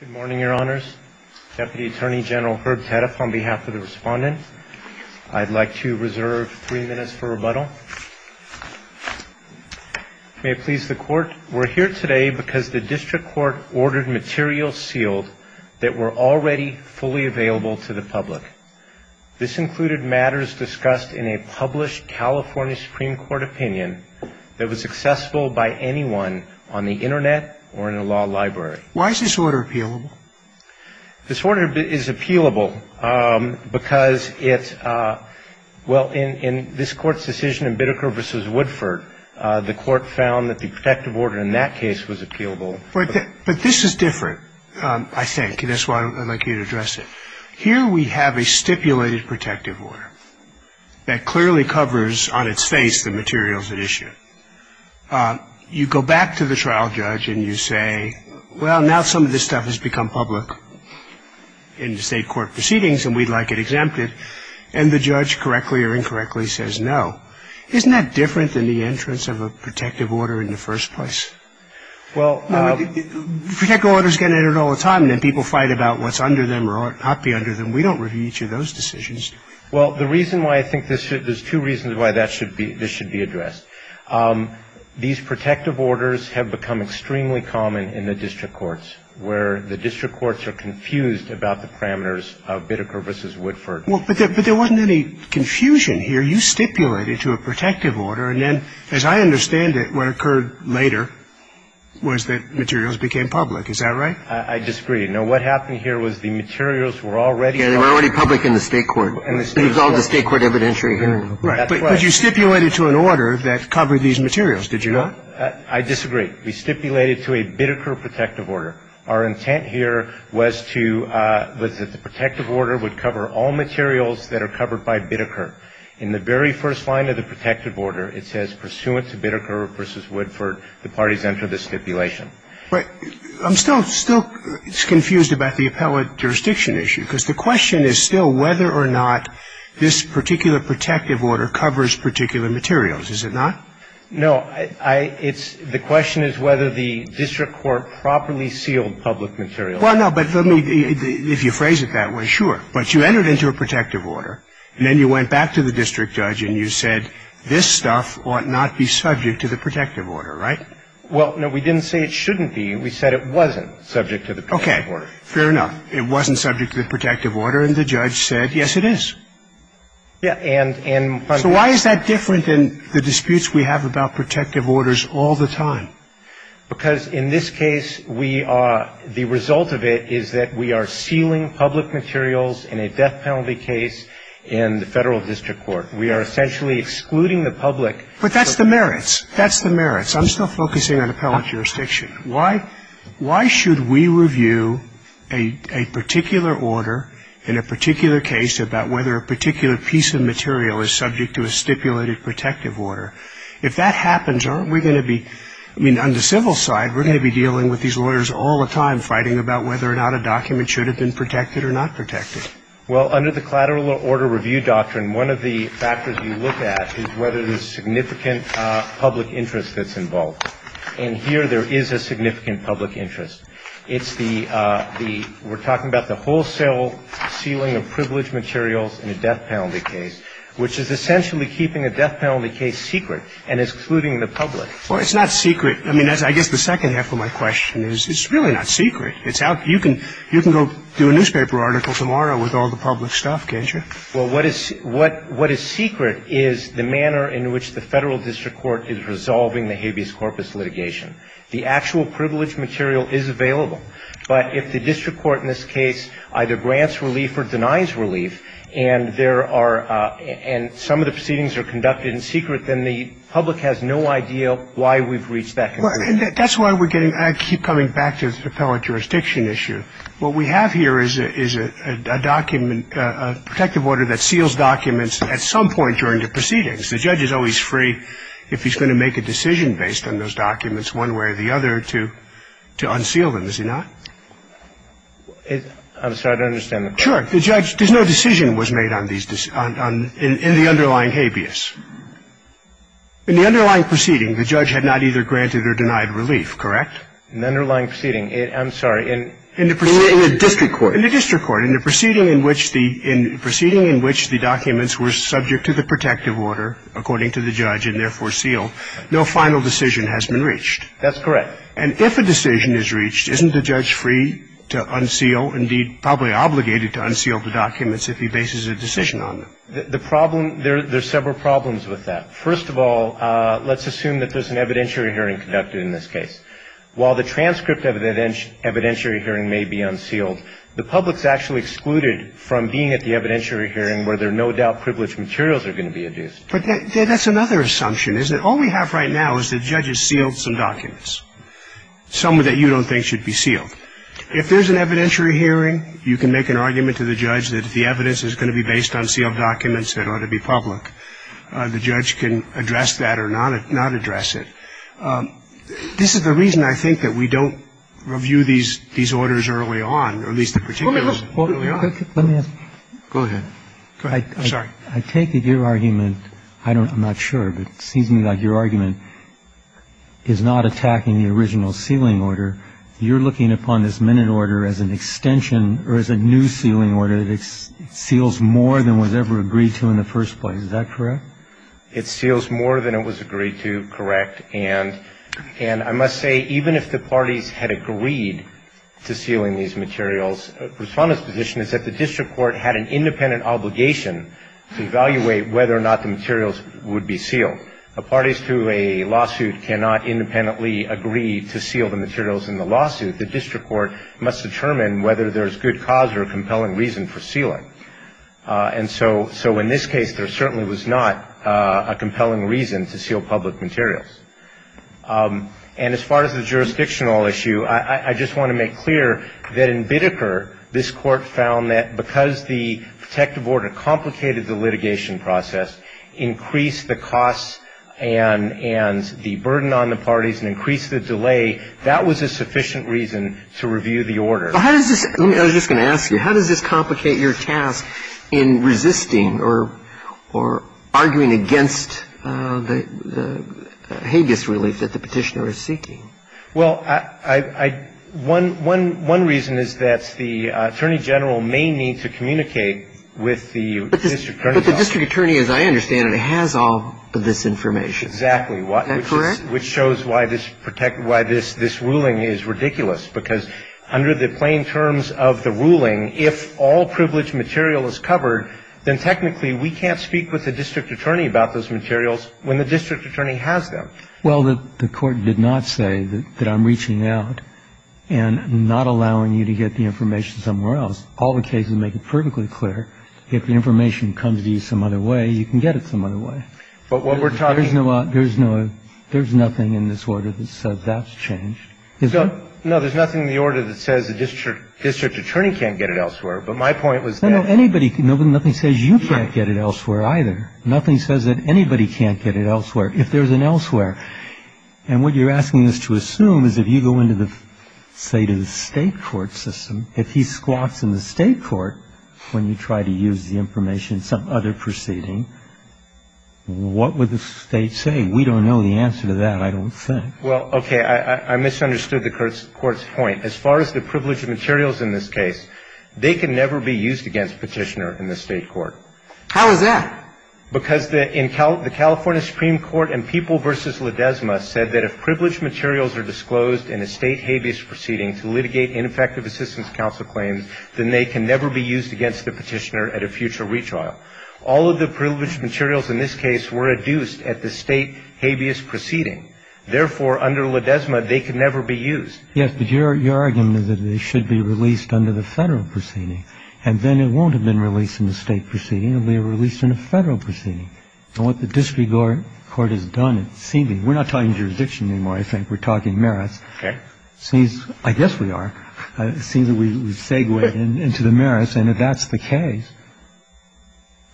Good morning, your honors. Deputy Attorney General Herb Tediff on behalf of the respondent. I'd like to reserve three minutes for rebuttal. May it please the court, we're here today because the district court ordered materials sealed that were already fully available to the public. This included matters discussed in a published California Supreme Court opinion that was accessible by anyone on the Internet or in a law library. Why is this order appealable? This order is appealable because it's, well, in this court's decision in Biddecker v. Woodford, the court found that the protective order in that case was appealable. But this is different, I think, and that's why I'd like you to address it. Here we have a stipulated protective order that clearly covers on its face the materials at issue. You go back to the trial judge and you say, well, now some of this stuff has become public in the state court proceedings and we'd like it exempted. And the judge, correctly or incorrectly, says no. Isn't that different than the entrance of a protective order in the first place? Protective orders get entered all the time, and then people fight about what's under them or ought not to be under them. We don't review each of those decisions. Well, the reason why I think this should, there's two reasons why that should be, this should be addressed. These protective orders have become extremely common in the district courts, where the district courts are confused about the parameters of Biddecker v. Woodford. Well, but there wasn't any confusion here. You stipulated to a protective order, and then, as I understand it, what occurred later was that materials became public. Is that right? I disagree. No, what happened here was the materials were already public. Yeah, they were already public in the state court. It was all in the state court evidentiary hearing. Right. But you stipulated to an order that covered these materials, did you not? I disagree. We stipulated to a Biddecker protective order. Our intent here was to, was that the protective order would cover all materials that are covered by Biddecker. In the very first line of the protective order, it says, pursuant to Biddecker v. Woodford, the parties enter the stipulation. But I'm still, still confused about the appellate jurisdiction issue. Because the question is still whether or not this particular protective order covers particular materials, is it not? No. I, it's, the question is whether the district court properly sealed public materials. Well, no, but let me, if you phrase it that way, sure. But you entered into a protective order, and then you went back to the district judge and you said, this stuff ought not be subject to the protective order, right? Well, no, we didn't say it shouldn't be. We said it wasn't subject to the protective order. Okay. Fair enough. It wasn't subject to the protective order, and the judge said, yes, it is. Yeah, and, and. So why is that different than the disputes we have about protective orders all the time? Because in this case, we are, the result of it is that we are sealing public materials in a death penalty case in the Federal District Court. But that's the merits. That's the merits. I'm still focusing on appellate jurisdiction. Why, why should we review a, a particular order in a particular case about whether a particular piece of material is subject to a stipulated protective order? If that happens, aren't we going to be, I mean, on the civil side, we're going to be dealing with these lawyers all the time fighting about whether or not a document should have been protected or not protected. Well, under the collateral order review doctrine, one of the factors you look at is whether there's significant public interest that's involved. And here, there is a significant public interest. It's the, the, we're talking about the wholesale sealing of privileged materials in a death penalty case, which is essentially keeping a death penalty case secret and excluding the public. Well, it's not secret. I mean, that's, I guess the second half of my question is, it's really not secret. It's how, you can, you can go do a newspaper article tomorrow with all the public stuff, can't you? Well, what is, what, what is secret is the manner in which the Federal District Court is resolving the habeas corpus litigation. The actual privileged material is available. But if the district court in this case either grants relief or denies relief, and there are, and some of the proceedings are conducted in secret, then the public has no idea why we've reached that conclusion. Well, and that's why we're getting, I keep coming back to the appellate jurisdiction issue. What we have here is a, is a document, a protective order that seals documents at some point during the proceedings. The judge is always free, if he's going to make a decision based on those documents, one way or the other, to, to unseal them, is he not? I'm sorry, I don't understand. Sure. The judge, there's no decision was made on these, on, on, in, in the underlying habeas. In the underlying proceeding, the judge had not either granted or denied relief, correct? In the underlying proceeding, it, I'm sorry, in. In the proceeding. In the district court. In the district court. In the proceeding in which the, in the proceeding in which the documents were subject to the protective order, according to the judge, and therefore sealed, no final decision has been reached. That's correct. And if a decision is reached, isn't the judge free to unseal, indeed, probably obligated to unseal the documents if he bases a decision on them? The, the problem, there, there's several problems with that. First of all, let's assume that there's an evidentiary hearing conducted in this case. While the transcript of the evidentiary hearing may be unsealed, the public's actually excluded from being at the evidentiary hearing where there are no doubt privileged materials are going to be adduced. But that, that's another assumption, isn't it? All we have right now is the judge has sealed some documents, some that you don't think should be sealed. If there's an evidentiary hearing, you can make an argument to the judge that the evidence is going to be based on sealed documents that ought to be public. The judge can address that or not, not address it. This is the reason, I think, that we don't review these, these orders early on, or at least the particulars early on. Let me ask you. Go ahead. Go ahead. I'm sorry. I take it your argument, I don't, I'm not sure, but it seems to me like your argument is not attacking the original sealing order. You're looking upon this minute order as an extension or as a new sealing order that seals more than was ever agreed to in the first place. Is that correct? It seals more than it was agreed to. Correct. And, and I must say, even if the parties had agreed to sealing these materials, the Respondent's position is that the district court had an independent The parties to a lawsuit cannot independently agree to seal the materials in the lawsuit. The district court must determine whether there's good cause or a compelling reason for sealing. And so, so in this case, there certainly was not a compelling reason to seal public materials. And as far as the jurisdictional issue, I, I just want to make clear that in Bideker, this Court found that because the protective order complicated the litigation process, increased the costs and, and the burden on the parties and increased the delay, that was a sufficient reason to review the order. Well, how does this, I was just going to ask you, how does this complicate your task in resisting or, or arguing against the Hagueis relief that the Petitioner is seeking? Well, I, I, one, one, one reason is that the Attorney General may need to communicate with the district attorney. But the district attorney, as I understand it, has all of this information. Exactly. Isn't that correct? Which shows why this ruling is ridiculous. Because under the plain terms of the ruling, if all privileged material is covered, then technically we can't speak with the district attorney about those materials when the district attorney has them. Well, the, the Court did not say that, that I'm reaching out and not allowing you to get the information somewhere else. All the cases make it perfectly clear. If the information comes to you some other way, you can get it some other way. But what we're talking about. There's no, there's no, there's nothing in this order that says that's changed. Is there? No, there's nothing in the order that says the district, district attorney can't get it elsewhere. But my point was that. No, no, anybody, nobody, nothing says you can't get it elsewhere either. Nothing says that anybody can't get it elsewhere. If there's an elsewhere. And what you're asking us to assume is if you go into the, say, to the State court system, if he squats in the State court, when you try to use the information in some other proceeding, what would the State say? We don't know the answer to that, I don't think. Well, okay. I misunderstood the Court's point. As far as the privileged materials in this case, they can never be used against Petitioner in the State court. How is that? Because the California Supreme Court in People v. Ledesma said that if privileged materials are disclosed in a State habeas proceeding to litigate ineffective assistance counsel claims, then they can never be used against the Petitioner at a future retrial. All of the privileged materials in this case were adduced at the State habeas proceeding. Therefore, under Ledesma, they can never be used. Yes, but your argument is that it should be released under the Federal proceeding. And then it won't have been released in the State proceeding. It will be released in a Federal proceeding. And what the district court has done, seemingly, we're not talking jurisdiction anymore, I think. We're talking merits. Okay. I guess we are. It seems that we segue into the merits. And if that's the case,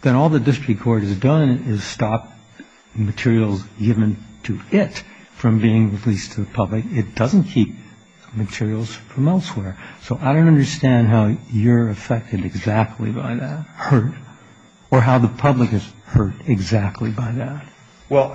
then all the district court has done is stop materials given to it from being released to the public. It doesn't keep materials from elsewhere. So I don't understand how you're affected exactly by that. Hurt. Or how the public is hurt exactly by that. Well,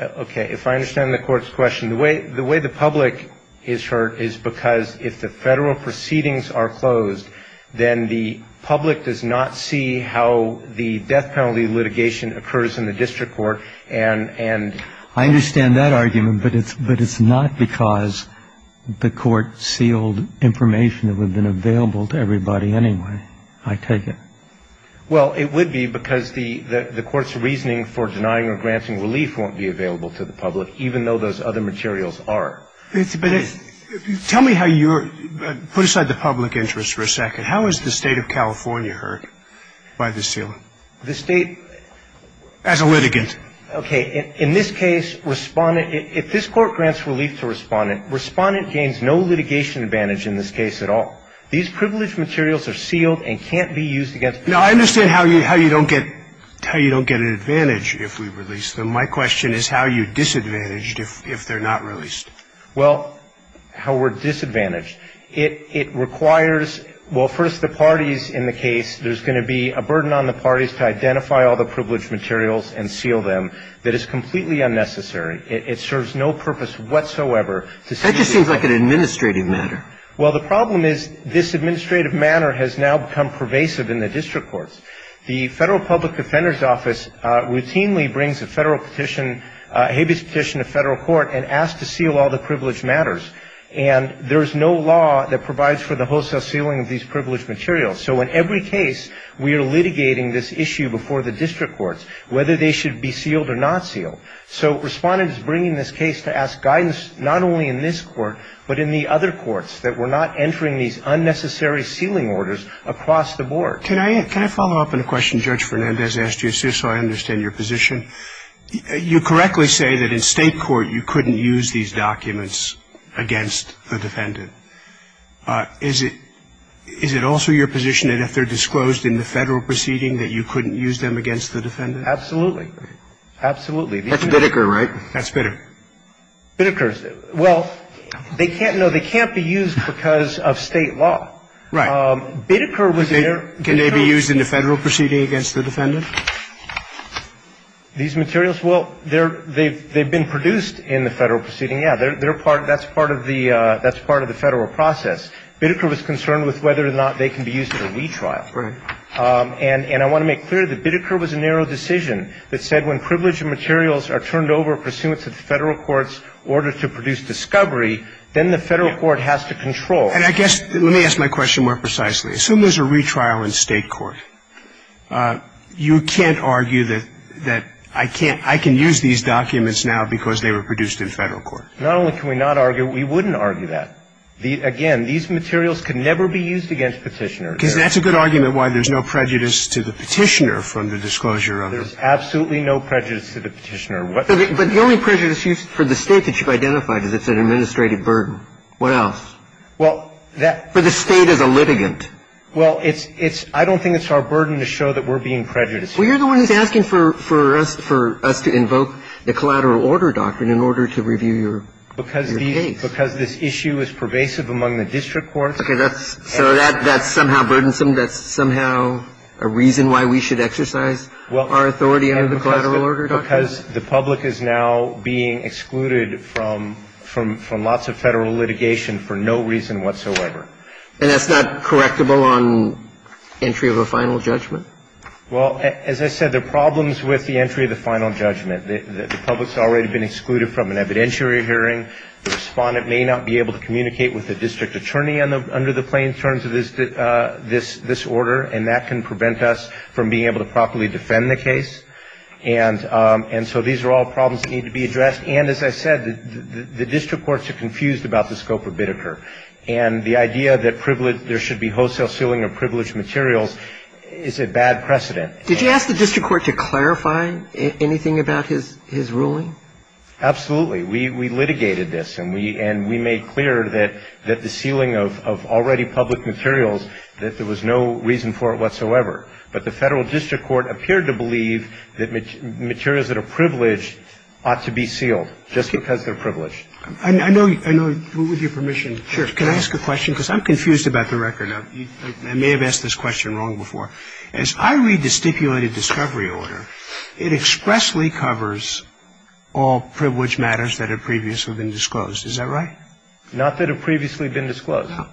okay. If I understand the Court's question, the way the public is hurt is because if the Federal proceedings are closed, then the public does not see how the death penalty litigation occurs in the district court. I understand that argument. But it's not because the Court sealed information that would have been available to everybody anyway. I take it. Well, it would be because the Court's reasoning for denying or granting relief won't be available to the public, even though those other materials are. But tell me how you're – put aside the public interest for a second. How is the State of California hurt by the sealing? The State – As a litigant. Okay. In this case, Respondent – if this Court grants relief to Respondent, Respondent gains no litigation advantage in this case at all. These privileged materials are sealed and can't be used against the public. Now, I understand how you don't get – how you don't get an advantage if we release them. My question is how you're disadvantaged if they're not released. Well, how we're disadvantaged. It requires – well, first, the parties in the case, there's going to be a burden on the parties to identify all the privileged materials and seal them. That is completely unnecessary. It serves no purpose whatsoever to seal – That just seems like an administrative matter. Well, the problem is this administrative manner has now become pervasive in the district courts. The Federal Public Defender's Office routinely brings a Federal petition, a habeas petition, to Federal court and asks to seal all the privileged matters. And there is no law that provides for the wholesale sealing of these privileged materials. So in every case, we are litigating this issue before the district courts, whether they should be sealed or not sealed. So Respondent is bringing this case to ask guidance not only in this court, but in the other courts that we're not entering these unnecessary sealing orders across the board. Can I follow up on a question Judge Fernandez asked you, too, so I understand your position? You correctly say that in State court you couldn't use these documents against the defendant. Is it also your position that if they're disclosed in the Federal proceeding that you couldn't use them against the defendant? Absolutely. That's Biddeker, right? That's Biddeker. Biddeker's. Well, they can't be used because of State law. Right. Biddeker was there. Can they be used in the Federal proceeding against the defendant? These materials? Well, they've been produced in the Federal proceeding, yeah. That's part of the Federal process. Biddeker was concerned with whether or not they can be used in a retrial. Right. And I want to make clear that Biddeker was a narrow decision that said when privileged materials are turned over pursuant to the Federal court's order to produce discovery, then the Federal court has to control. And I guess, let me ask my question more precisely. Assume there's a retrial in State court. You can't argue that I can't, I can use these documents now because they were produced in Federal court. Not only can we not argue, we wouldn't argue that. Again, these materials could never be used against Petitioner. Because that's a good argument why there's no prejudice to the Petitioner from the disclosure of them. There's absolutely no prejudice to the Petitioner. But the only prejudice used for the State that you've identified is it's an administrative burden. What else? Well, that — For the State as a litigant. Well, it's — I don't think it's our burden to show that we're being prejudiced. Well, you're the one who's asking for us to invoke the collateral order doctrine in order to review your case. Because this issue is pervasive among the district courts. Okay. So that's somehow burdensome. That's somehow a reason why we should exercise our authority under the collateral order doctrine? Because the public is now being excluded from lots of Federal litigation for no reason whatsoever. And that's not correctable on entry of a final judgment? Well, as I said, there are problems with the entry of the final judgment. The public's already been excluded from an evidentiary hearing. The Respondent may not be able to communicate with the district attorney under the plain terms of this order. And that can prevent us from being able to properly defend the case. And so these are all problems that need to be addressed. And as I said, the district courts are confused about the scope of Biddeker. And the idea that there should be wholesale sealing of privileged materials is a bad precedent. Did you ask the district court to clarify anything about his ruling? Absolutely. We litigated this, and we made clear that the sealing of already public materials, that there was no reason for it whatsoever. But the Federal District Court appeared to believe that materials that are privileged ought to be sealed just because they're privileged. I know, with your permission, can I ask a question? Because I'm confused about the record. I may have asked this question wrong before. As I read the stipulated discovery order, it expressly covers all privileged matters that have previously been disclosed. Is that right? Not that have previously been disclosed. No.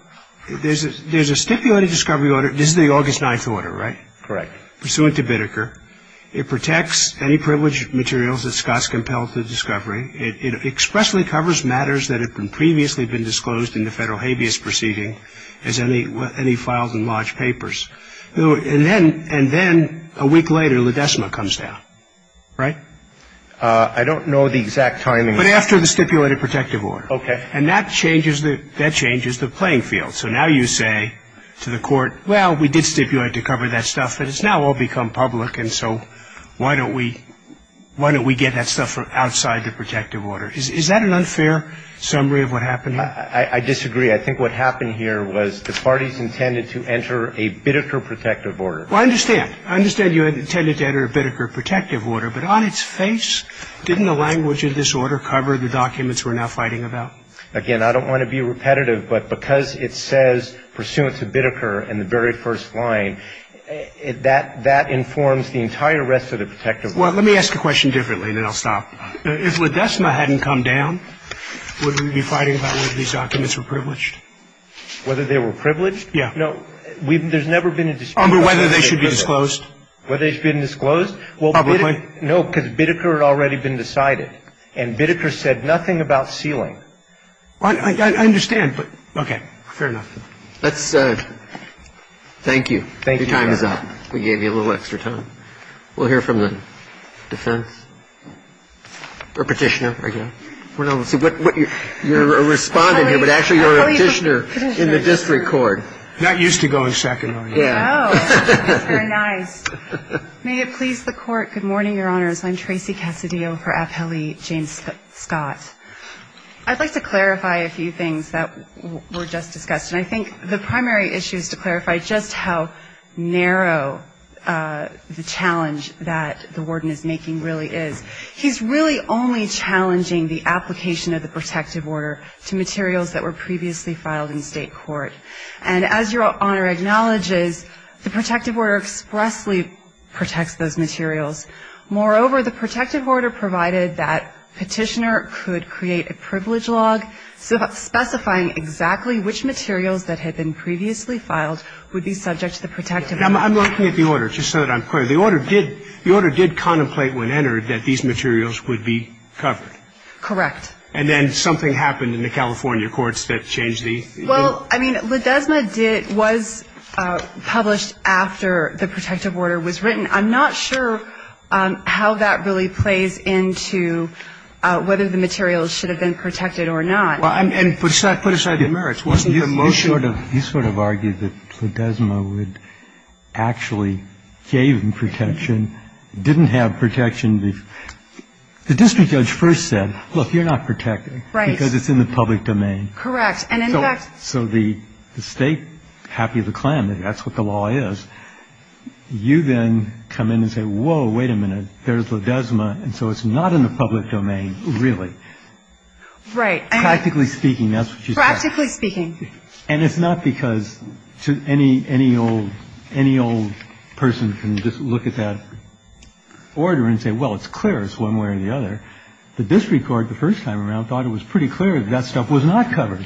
There's a stipulated discovery order. This is the August 9th order, right? Correct. Pursuant to Biddeker. It protects any privileged materials that Scott's compelled to discovery. It expressly covers matters that have previously been disclosed in the Federal habeas proceeding as any filed in large papers. And then a week later, La Decima comes down, right? I don't know the exact timing. But after the stipulated protective order. Okay. And that changes the playing field. So now you say to the court, well, we did stipulate to cover that stuff, but it's now all become public, and so why don't we get that stuff outside the protective order? Is that an unfair summary of what happened? I disagree. I think what happened here was the parties intended to enter a Biddeker protective order. Well, I understand. I understand you intended to enter a Biddeker protective order. But on its face, didn't the language of this order cover the documents we're now fighting about? Again, I don't want to be repetitive, but because it says pursuant to Biddeker in the very first line, that informs the entire rest of the protective order. Well, let me ask a question differently, and then I'll stop. If La Decima hadn't come down, would we be fighting about whether these documents were privileged? Whether they were privileged? Yeah. No. There's never been a disclosure. Oh, but whether they should be disclosed? Whether they should be disclosed? Well, no, because Biddeker had already been decided. And Biddeker said nothing about sealing. I understand. Okay. Fair enough. Let's thank you. Your time is up. We gave you a little extra time. We'll hear from the defense or Petitioner. You're a Respondent here, but actually you're a Petitioner in the district court. Not used to going second, are you? No. Very nice. May it please the Court, good morning, Your Honors. I'm Tracy Cassidio for Appellee James Scott. I'd like to clarify a few things that were just discussed. And I think the primary issue is to clarify just how narrow the challenge that the Warden is making really is. He's really only challenging the application of the protective order to materials that were previously filed in state court. And as Your Honor acknowledges, the protective order expressly protects those materials. Moreover, the protective order provided that Petitioner could create a privilege log specifying exactly which materials that had been previously filed would be subject to the protective order. I'm looking at the order, just so that I'm clear. The order did contemplate when entered that these materials would be covered. Correct. And then something happened in the California courts that changed the order. Well, I mean, LaDesma was published after the protective order was written. I'm not sure how that really plays into whether the materials should have been protected or not. Well, and put aside the merits. Wasn't the motion? You sort of argued that LaDesma would actually gave them protection, didn't have protection. The district judge first said, look, you're not protected. Right. Because it's in the public domain. Correct. So the state, happy with the claim that that's what the law is, you then come in and say, whoa, wait a minute. There's LaDesma. And so it's not in the public domain, really. Right. Practically speaking, that's what she said. Practically speaking. And it's not because any old person can just look at that order and say, well, it's clear. It's one way or the other. The district court, the first time around, thought it was pretty clear that that stuff was not covered.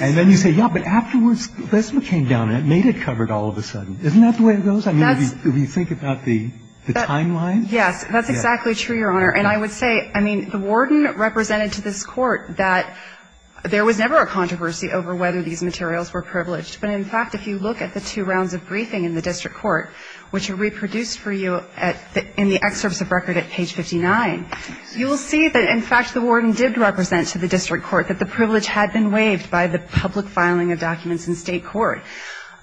And then you say, yeah, but afterwards, LaDesma came down and it made it covered all of a sudden. Isn't that the way it goes? I mean, if you think about the timeline. Yes, that's exactly true, Your Honor. And I would say, I mean, the warden represented to this Court that there was never a controversy over whether these materials were privileged. But in fact, if you look at the two rounds of briefing in the district court, which are reproduced for you in the excerpts of record at page 59, you will see that, in fact, the warden did represent to the district court that the privilege had been waived by the public filing of documents in state court.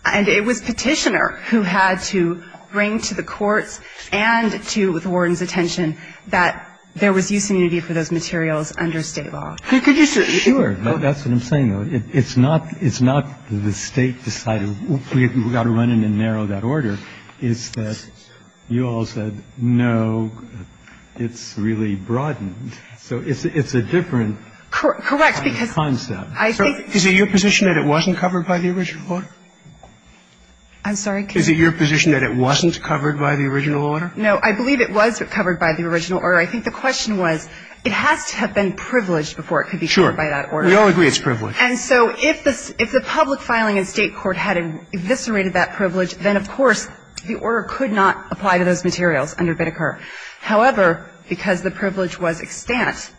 And it was Petitioner who had to bring to the courts and to the warden's attention that there was use and unity for those materials under state law. Could you say that? Sure. That's what I'm saying, though. It's not that the State decided we've got to run in and narrow that order. It's that you all said, no, it's really broadened. So it's a different concept. Correct. Is it your position that it wasn't covered by the original order? I'm sorry? Is it your position that it wasn't covered by the original order? No, I believe it was covered by the original order. I think the question was, it has to have been privileged before it could be covered by that order. We all agree it's privileged. And so if the public filing in state court had eviscerated that privilege, then, of course, the order could not apply to those materials under Biddeker. However, because the privilege was extant,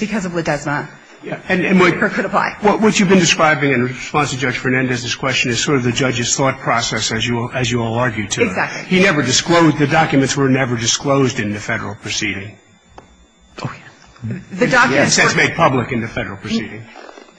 because of Ledesma, Biddeker could apply. What you've been describing in response to Judge Fernandez's question is sort of the judge's thought process, as you all argue to it. Exactly. He never disclosed the documents were never disclosed in the Federal proceeding. Oh, yeah. The documents were. In a sense, made public in the Federal proceeding.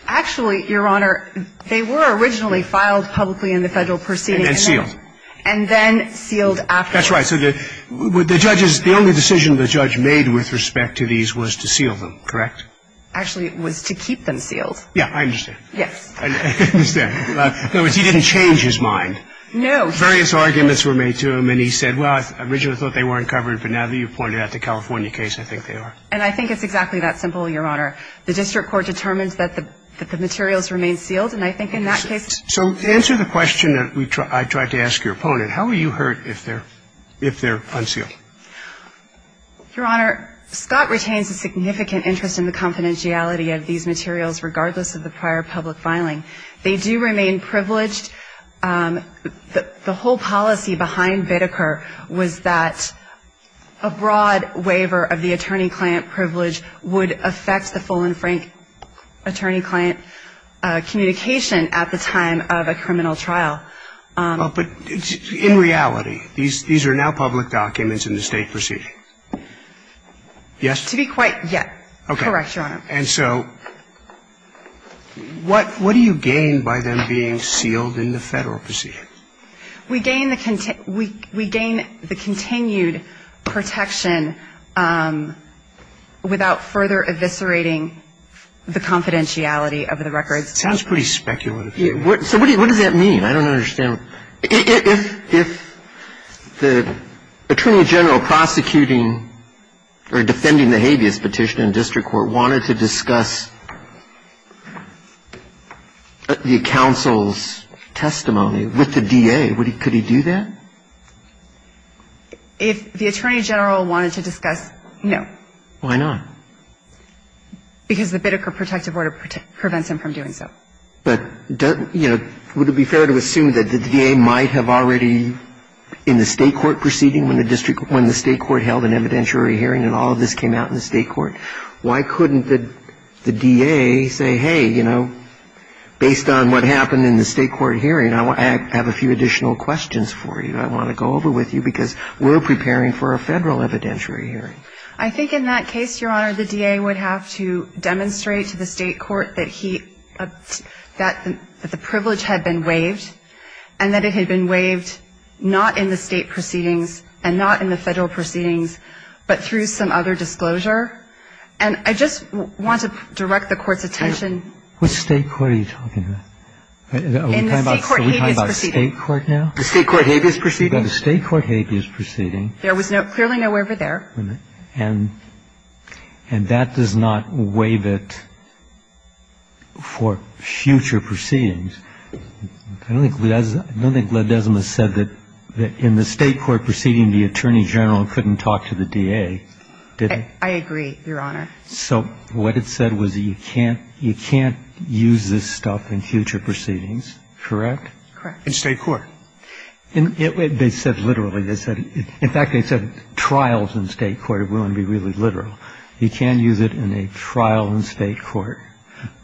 Actually, Your Honor, they were originally filed publicly in the Federal proceeding. And then sealed. And then sealed afterwards. That's right. So the judge's – the only decision the judge made with respect to these was to seal them, correct? Actually, it was to keep them sealed. Yeah, I understand. Yes. I understand. In other words, he didn't change his mind. No. Various arguments were made to him, and he said, well, I originally thought they weren't covered, but now that you've pointed out the California case, I think they are. And I think it's exactly that simple, Your Honor. The district court determines that the materials remain sealed, and I think in that case it's true. So to answer the question that I tried to ask your opponent, how are you hurt if they're unsealed? Your Honor, Scott retains a significant interest in the confidentiality of these materials regardless of the prior public filing. They do remain privileged. The whole policy behind Biddeker was that a broad waiver of the attorney-client privilege would affect the full and frank attorney-client communication at the time of a criminal trial. But in reality, these are now public documents in the State Procedure. Yes? Correct, Your Honor. Okay. And so what do you gain by them being sealed in the Federal Procedure? We gain the continued protection without further eviscerating the confidentiality of the records. Sounds pretty speculative to me. So what does that mean? I don't understand. If the attorney general prosecuting or defending the habeas petition in district court wanted to discuss the counsel's testimony with the DA, could he do that? If the attorney general wanted to discuss, no. Why not? Because the Biddeker protective order prevents him from doing so. But, you know, would it be fair to assume that the DA might have already, in the State Court, held an evidentiary hearing and all of this came out in the State Court? Why couldn't the DA say, hey, you know, based on what happened in the State Court hearing, I have a few additional questions for you. I want to go over with you because we're preparing for a Federal evidentiary hearing. I think in that case, Your Honor, the DA would have to demonstrate to the State Court that he had a clear view of the proceedings, but through some other disclosure. And I just want to direct the Court's attention. Which State Court are you talking about? In the State Court habeas proceeding. Are we talking about State Court now? The State Court habeas proceeding. The State Court habeas proceeding. There was clearly no waiver there. And that does not waive it for future proceedings. I don't think Gladesma said that in the State Court proceeding, the Attorney General couldn't talk to the DA, did he? I agree, Your Honor. So what it said was you can't use this stuff in future proceedings, correct? Correct. In State Court. They said literally. In fact, they said trials in State Court. It wouldn't be really literal. You can't use it in a trial in State Court,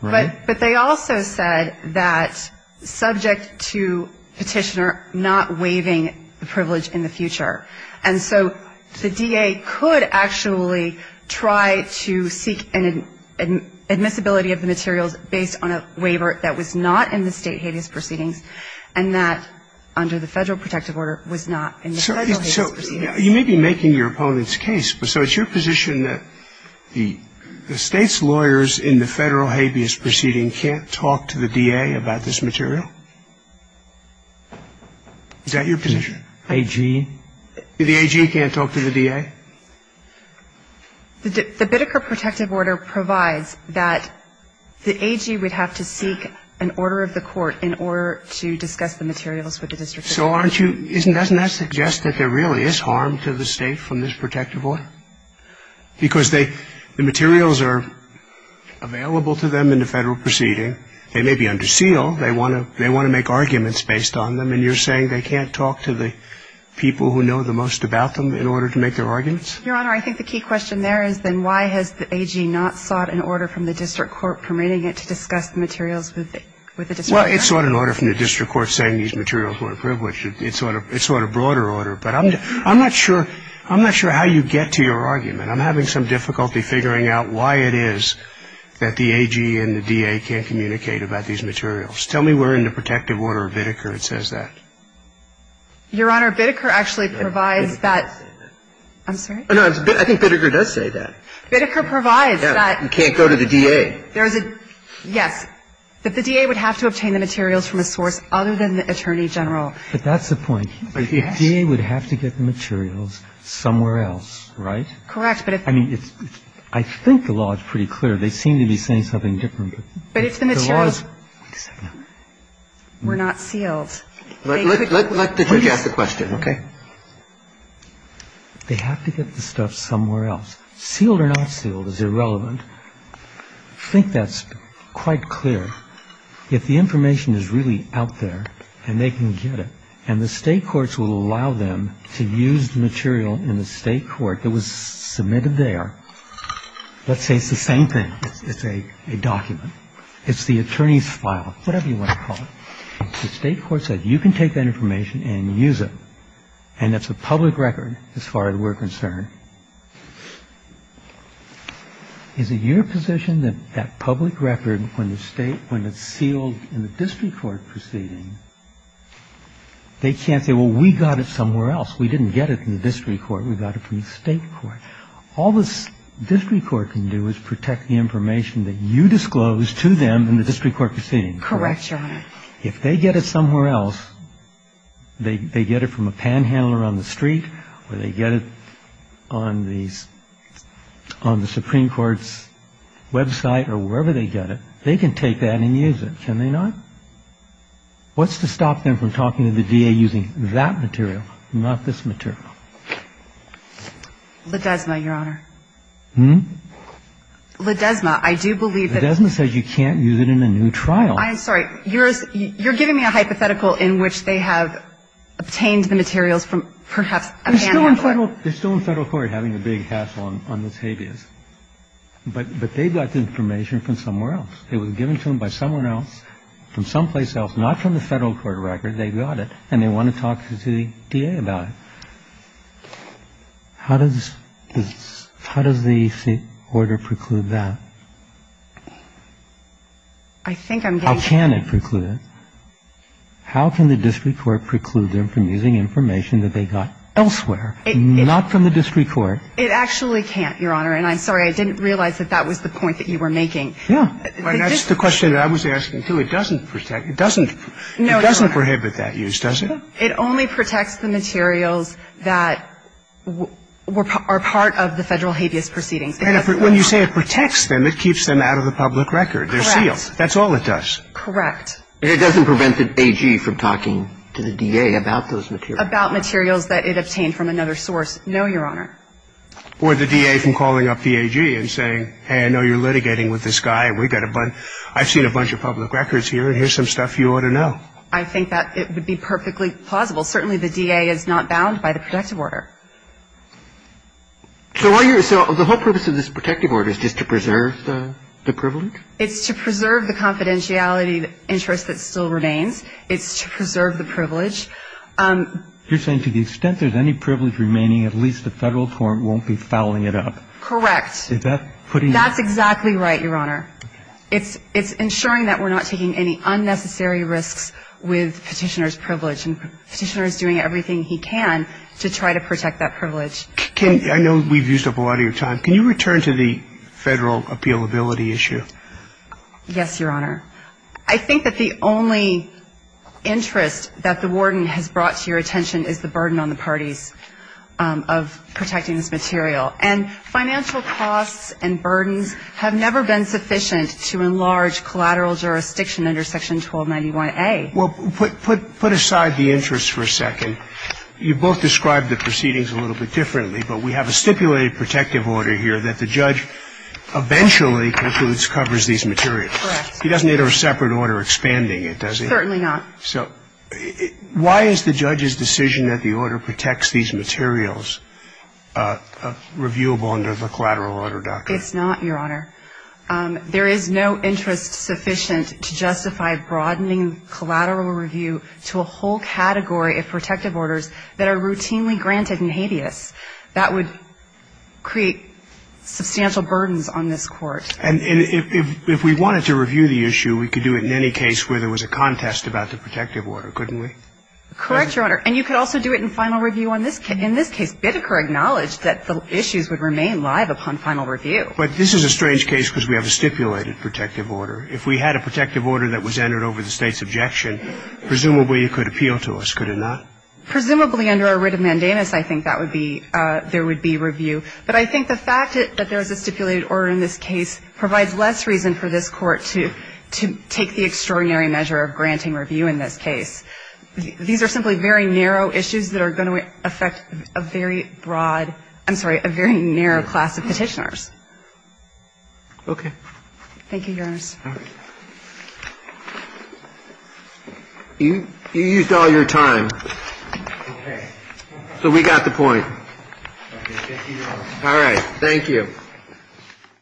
right? But they also said that subject to Petitioner not waiving the privilege in the future. And so the DA could actually try to seek an admissibility of the materials based on a waiver that was not in the State habeas proceedings and that under the Federal protective order was not in the Federal habeas proceedings. So you may be making your opponent's case, but so it's your position that the State's lawyers in the Federal habeas proceeding can't talk to the DA about this material? Is that your position? AG. The AG can't talk to the DA? The Biddeker protective order provides that the AG would have to seek an order of the court in order to discuss the materials with the district attorney. So aren't you — doesn't that suggest that there really is harm to the State from this protective order? Because they — the materials are available to them in the Federal proceeding. They may be under seal. They want to make arguments based on them. And you're saying they can't talk to the people who know the most about them in order to make their arguments? Your Honor, I think the key question there is then why has the AG not sought an order from the district court permitting it to discuss the materials with the district attorney? Well, it sought an order from the district court saying these materials were privileged. It sought a broader order. But I'm not sure how you get to your argument. I'm having some difficulty figuring out why it is that the AG and the DA can't communicate about these materials. Tell me where in the protective order of Biddeker it says that. Your Honor, Biddeker actually provides that. I'm sorry? No, I think Biddeker does say that. Biddeker provides that. You can't go to the DA. There's a — yes. That the DA would have to obtain the materials from a source other than the attorney general. But that's the point. Yes. But if DA would have to get the materials somewhere else, right? Correct. But if — I mean, I think the law is pretty clear. They seem to be saying something different. But if the materials — Wait a second. Were not sealed. Yes. Let the judge ask the question. Okay. They have to get the stuff somewhere else. Sealed or not sealed is irrelevant. I think that's quite clear. If the information is really out there and they can get it, and the state courts will allow them to use the material in the state court that was submitted there, let's say it's the same thing. It's a document. It's the attorney's file, whatever you want to call it. The state court said you can take that information and use it, and that's a public record as far as we're concerned. Is it your position that that public record, when the state — when it's sealed in the district court proceeding, they can't say, well, we got it somewhere else? We didn't get it in the district court. We got it from the state court. All the district court can do is protect the information that you disclosed to them in the district court proceeding. Correct, Your Honor. If they get it somewhere else, they get it from a panhandler on the street or they get it on the Supreme Court's website or wherever they get it, they can take that and use it, can they not? What's to stop them from talking to the DA using that material, not this material? Ledesma, Your Honor. Hmm? Ledesma, I do believe that — Ledesma says you can't use it in a new trial. I'm sorry. You're giving me a hypothetical in which they have obtained the materials from perhaps a panhandler. They're still in Federal court having a big hassle on this habeas. But they got the information from somewhere else. It was given to them by someone else from someplace else, not from the Federal court record. They got it, and they want to talk to the DA about it. How does this — how does the order preclude that? I think I'm getting — How can it preclude it? How can the district court preclude them from using information that they got elsewhere, not from the district court? It actually can't, Your Honor. And I'm sorry. I didn't realize that that was the point that you were making. Yeah. That's the question that I was asking, too. It doesn't protect — it doesn't — No, Your Honor. It doesn't prohibit that use, does it? It only protects the materials that are part of the Federal habeas proceedings. When you say it protects them, it keeps them out of the public record. Correct. They're sealed. That's all it does. Correct. It doesn't prevent the AG from talking to the DA about those materials. About materials that it obtained from another source. No, Your Honor. Or the DA from calling up the AG and saying, hey, I know you're litigating with this guy. We've got a bunch — I've seen a bunch of public records here, and here's some stuff you ought to know. I think that it would be perfectly plausible. Certainly the DA is not bound by the protective order. So are you — so the whole purpose of this protective order is just to preserve the privilege? It's to preserve the confidentiality interest that still remains. It's to preserve the privilege. You're saying to the extent there's any privilege remaining, at least the Federal court won't be fouling it up. Correct. Is that putting — That's exactly right, Your Honor. Okay. I know we've used up a lot of your time. Can you return to the Federal appealability issue? Yes, Your Honor. I think that the only interest that the warden has brought to your attention is the burden on the parties of protecting this material. And financial costs and burdens have never been sufficient to enlarge collateral jurisdiction under Section 1291A. Well, put aside the interest for a second. You both described the proceedings a little bit differently, but we have a stipulated protective order here that the judge eventually concludes covers these materials. Correct. He doesn't need a separate order expanding it, does he? Certainly not. So why is the judge's decision that the order protects these materials reviewable under the collateral order doctrine? It's not, Your Honor. There is no interest sufficient to justify broadening collateral review to a whole category of protective orders that are routinely granted in habeas. That would create substantial burdens on this Court. And if we wanted to review the issue, we could do it in any case where there was a contest about the protective order, couldn't we? Correct, Your Honor. And you could also do it in final review on this case. In this case, Biddecker acknowledged that the issues would remain live upon final review. But this is a strange case because we have a stipulated protective order. If we had a protective order that was entered over the State's objection, presumably it could appeal to us, could it not? Presumably under a writ of mandamus, I think that would be, there would be review. But I think the fact that there is a stipulated order in this case provides less reason for this Court to take the extraordinary measure of granting review in this case. These are simply very narrow issues that are going to affect a very broad, I'm sorry, a very narrow class of Petitioners. Okay. Thank you, Your Honor. You used all your time. Okay. So we got the point. Okay. Thank you, Your Honor. All right. Thank you.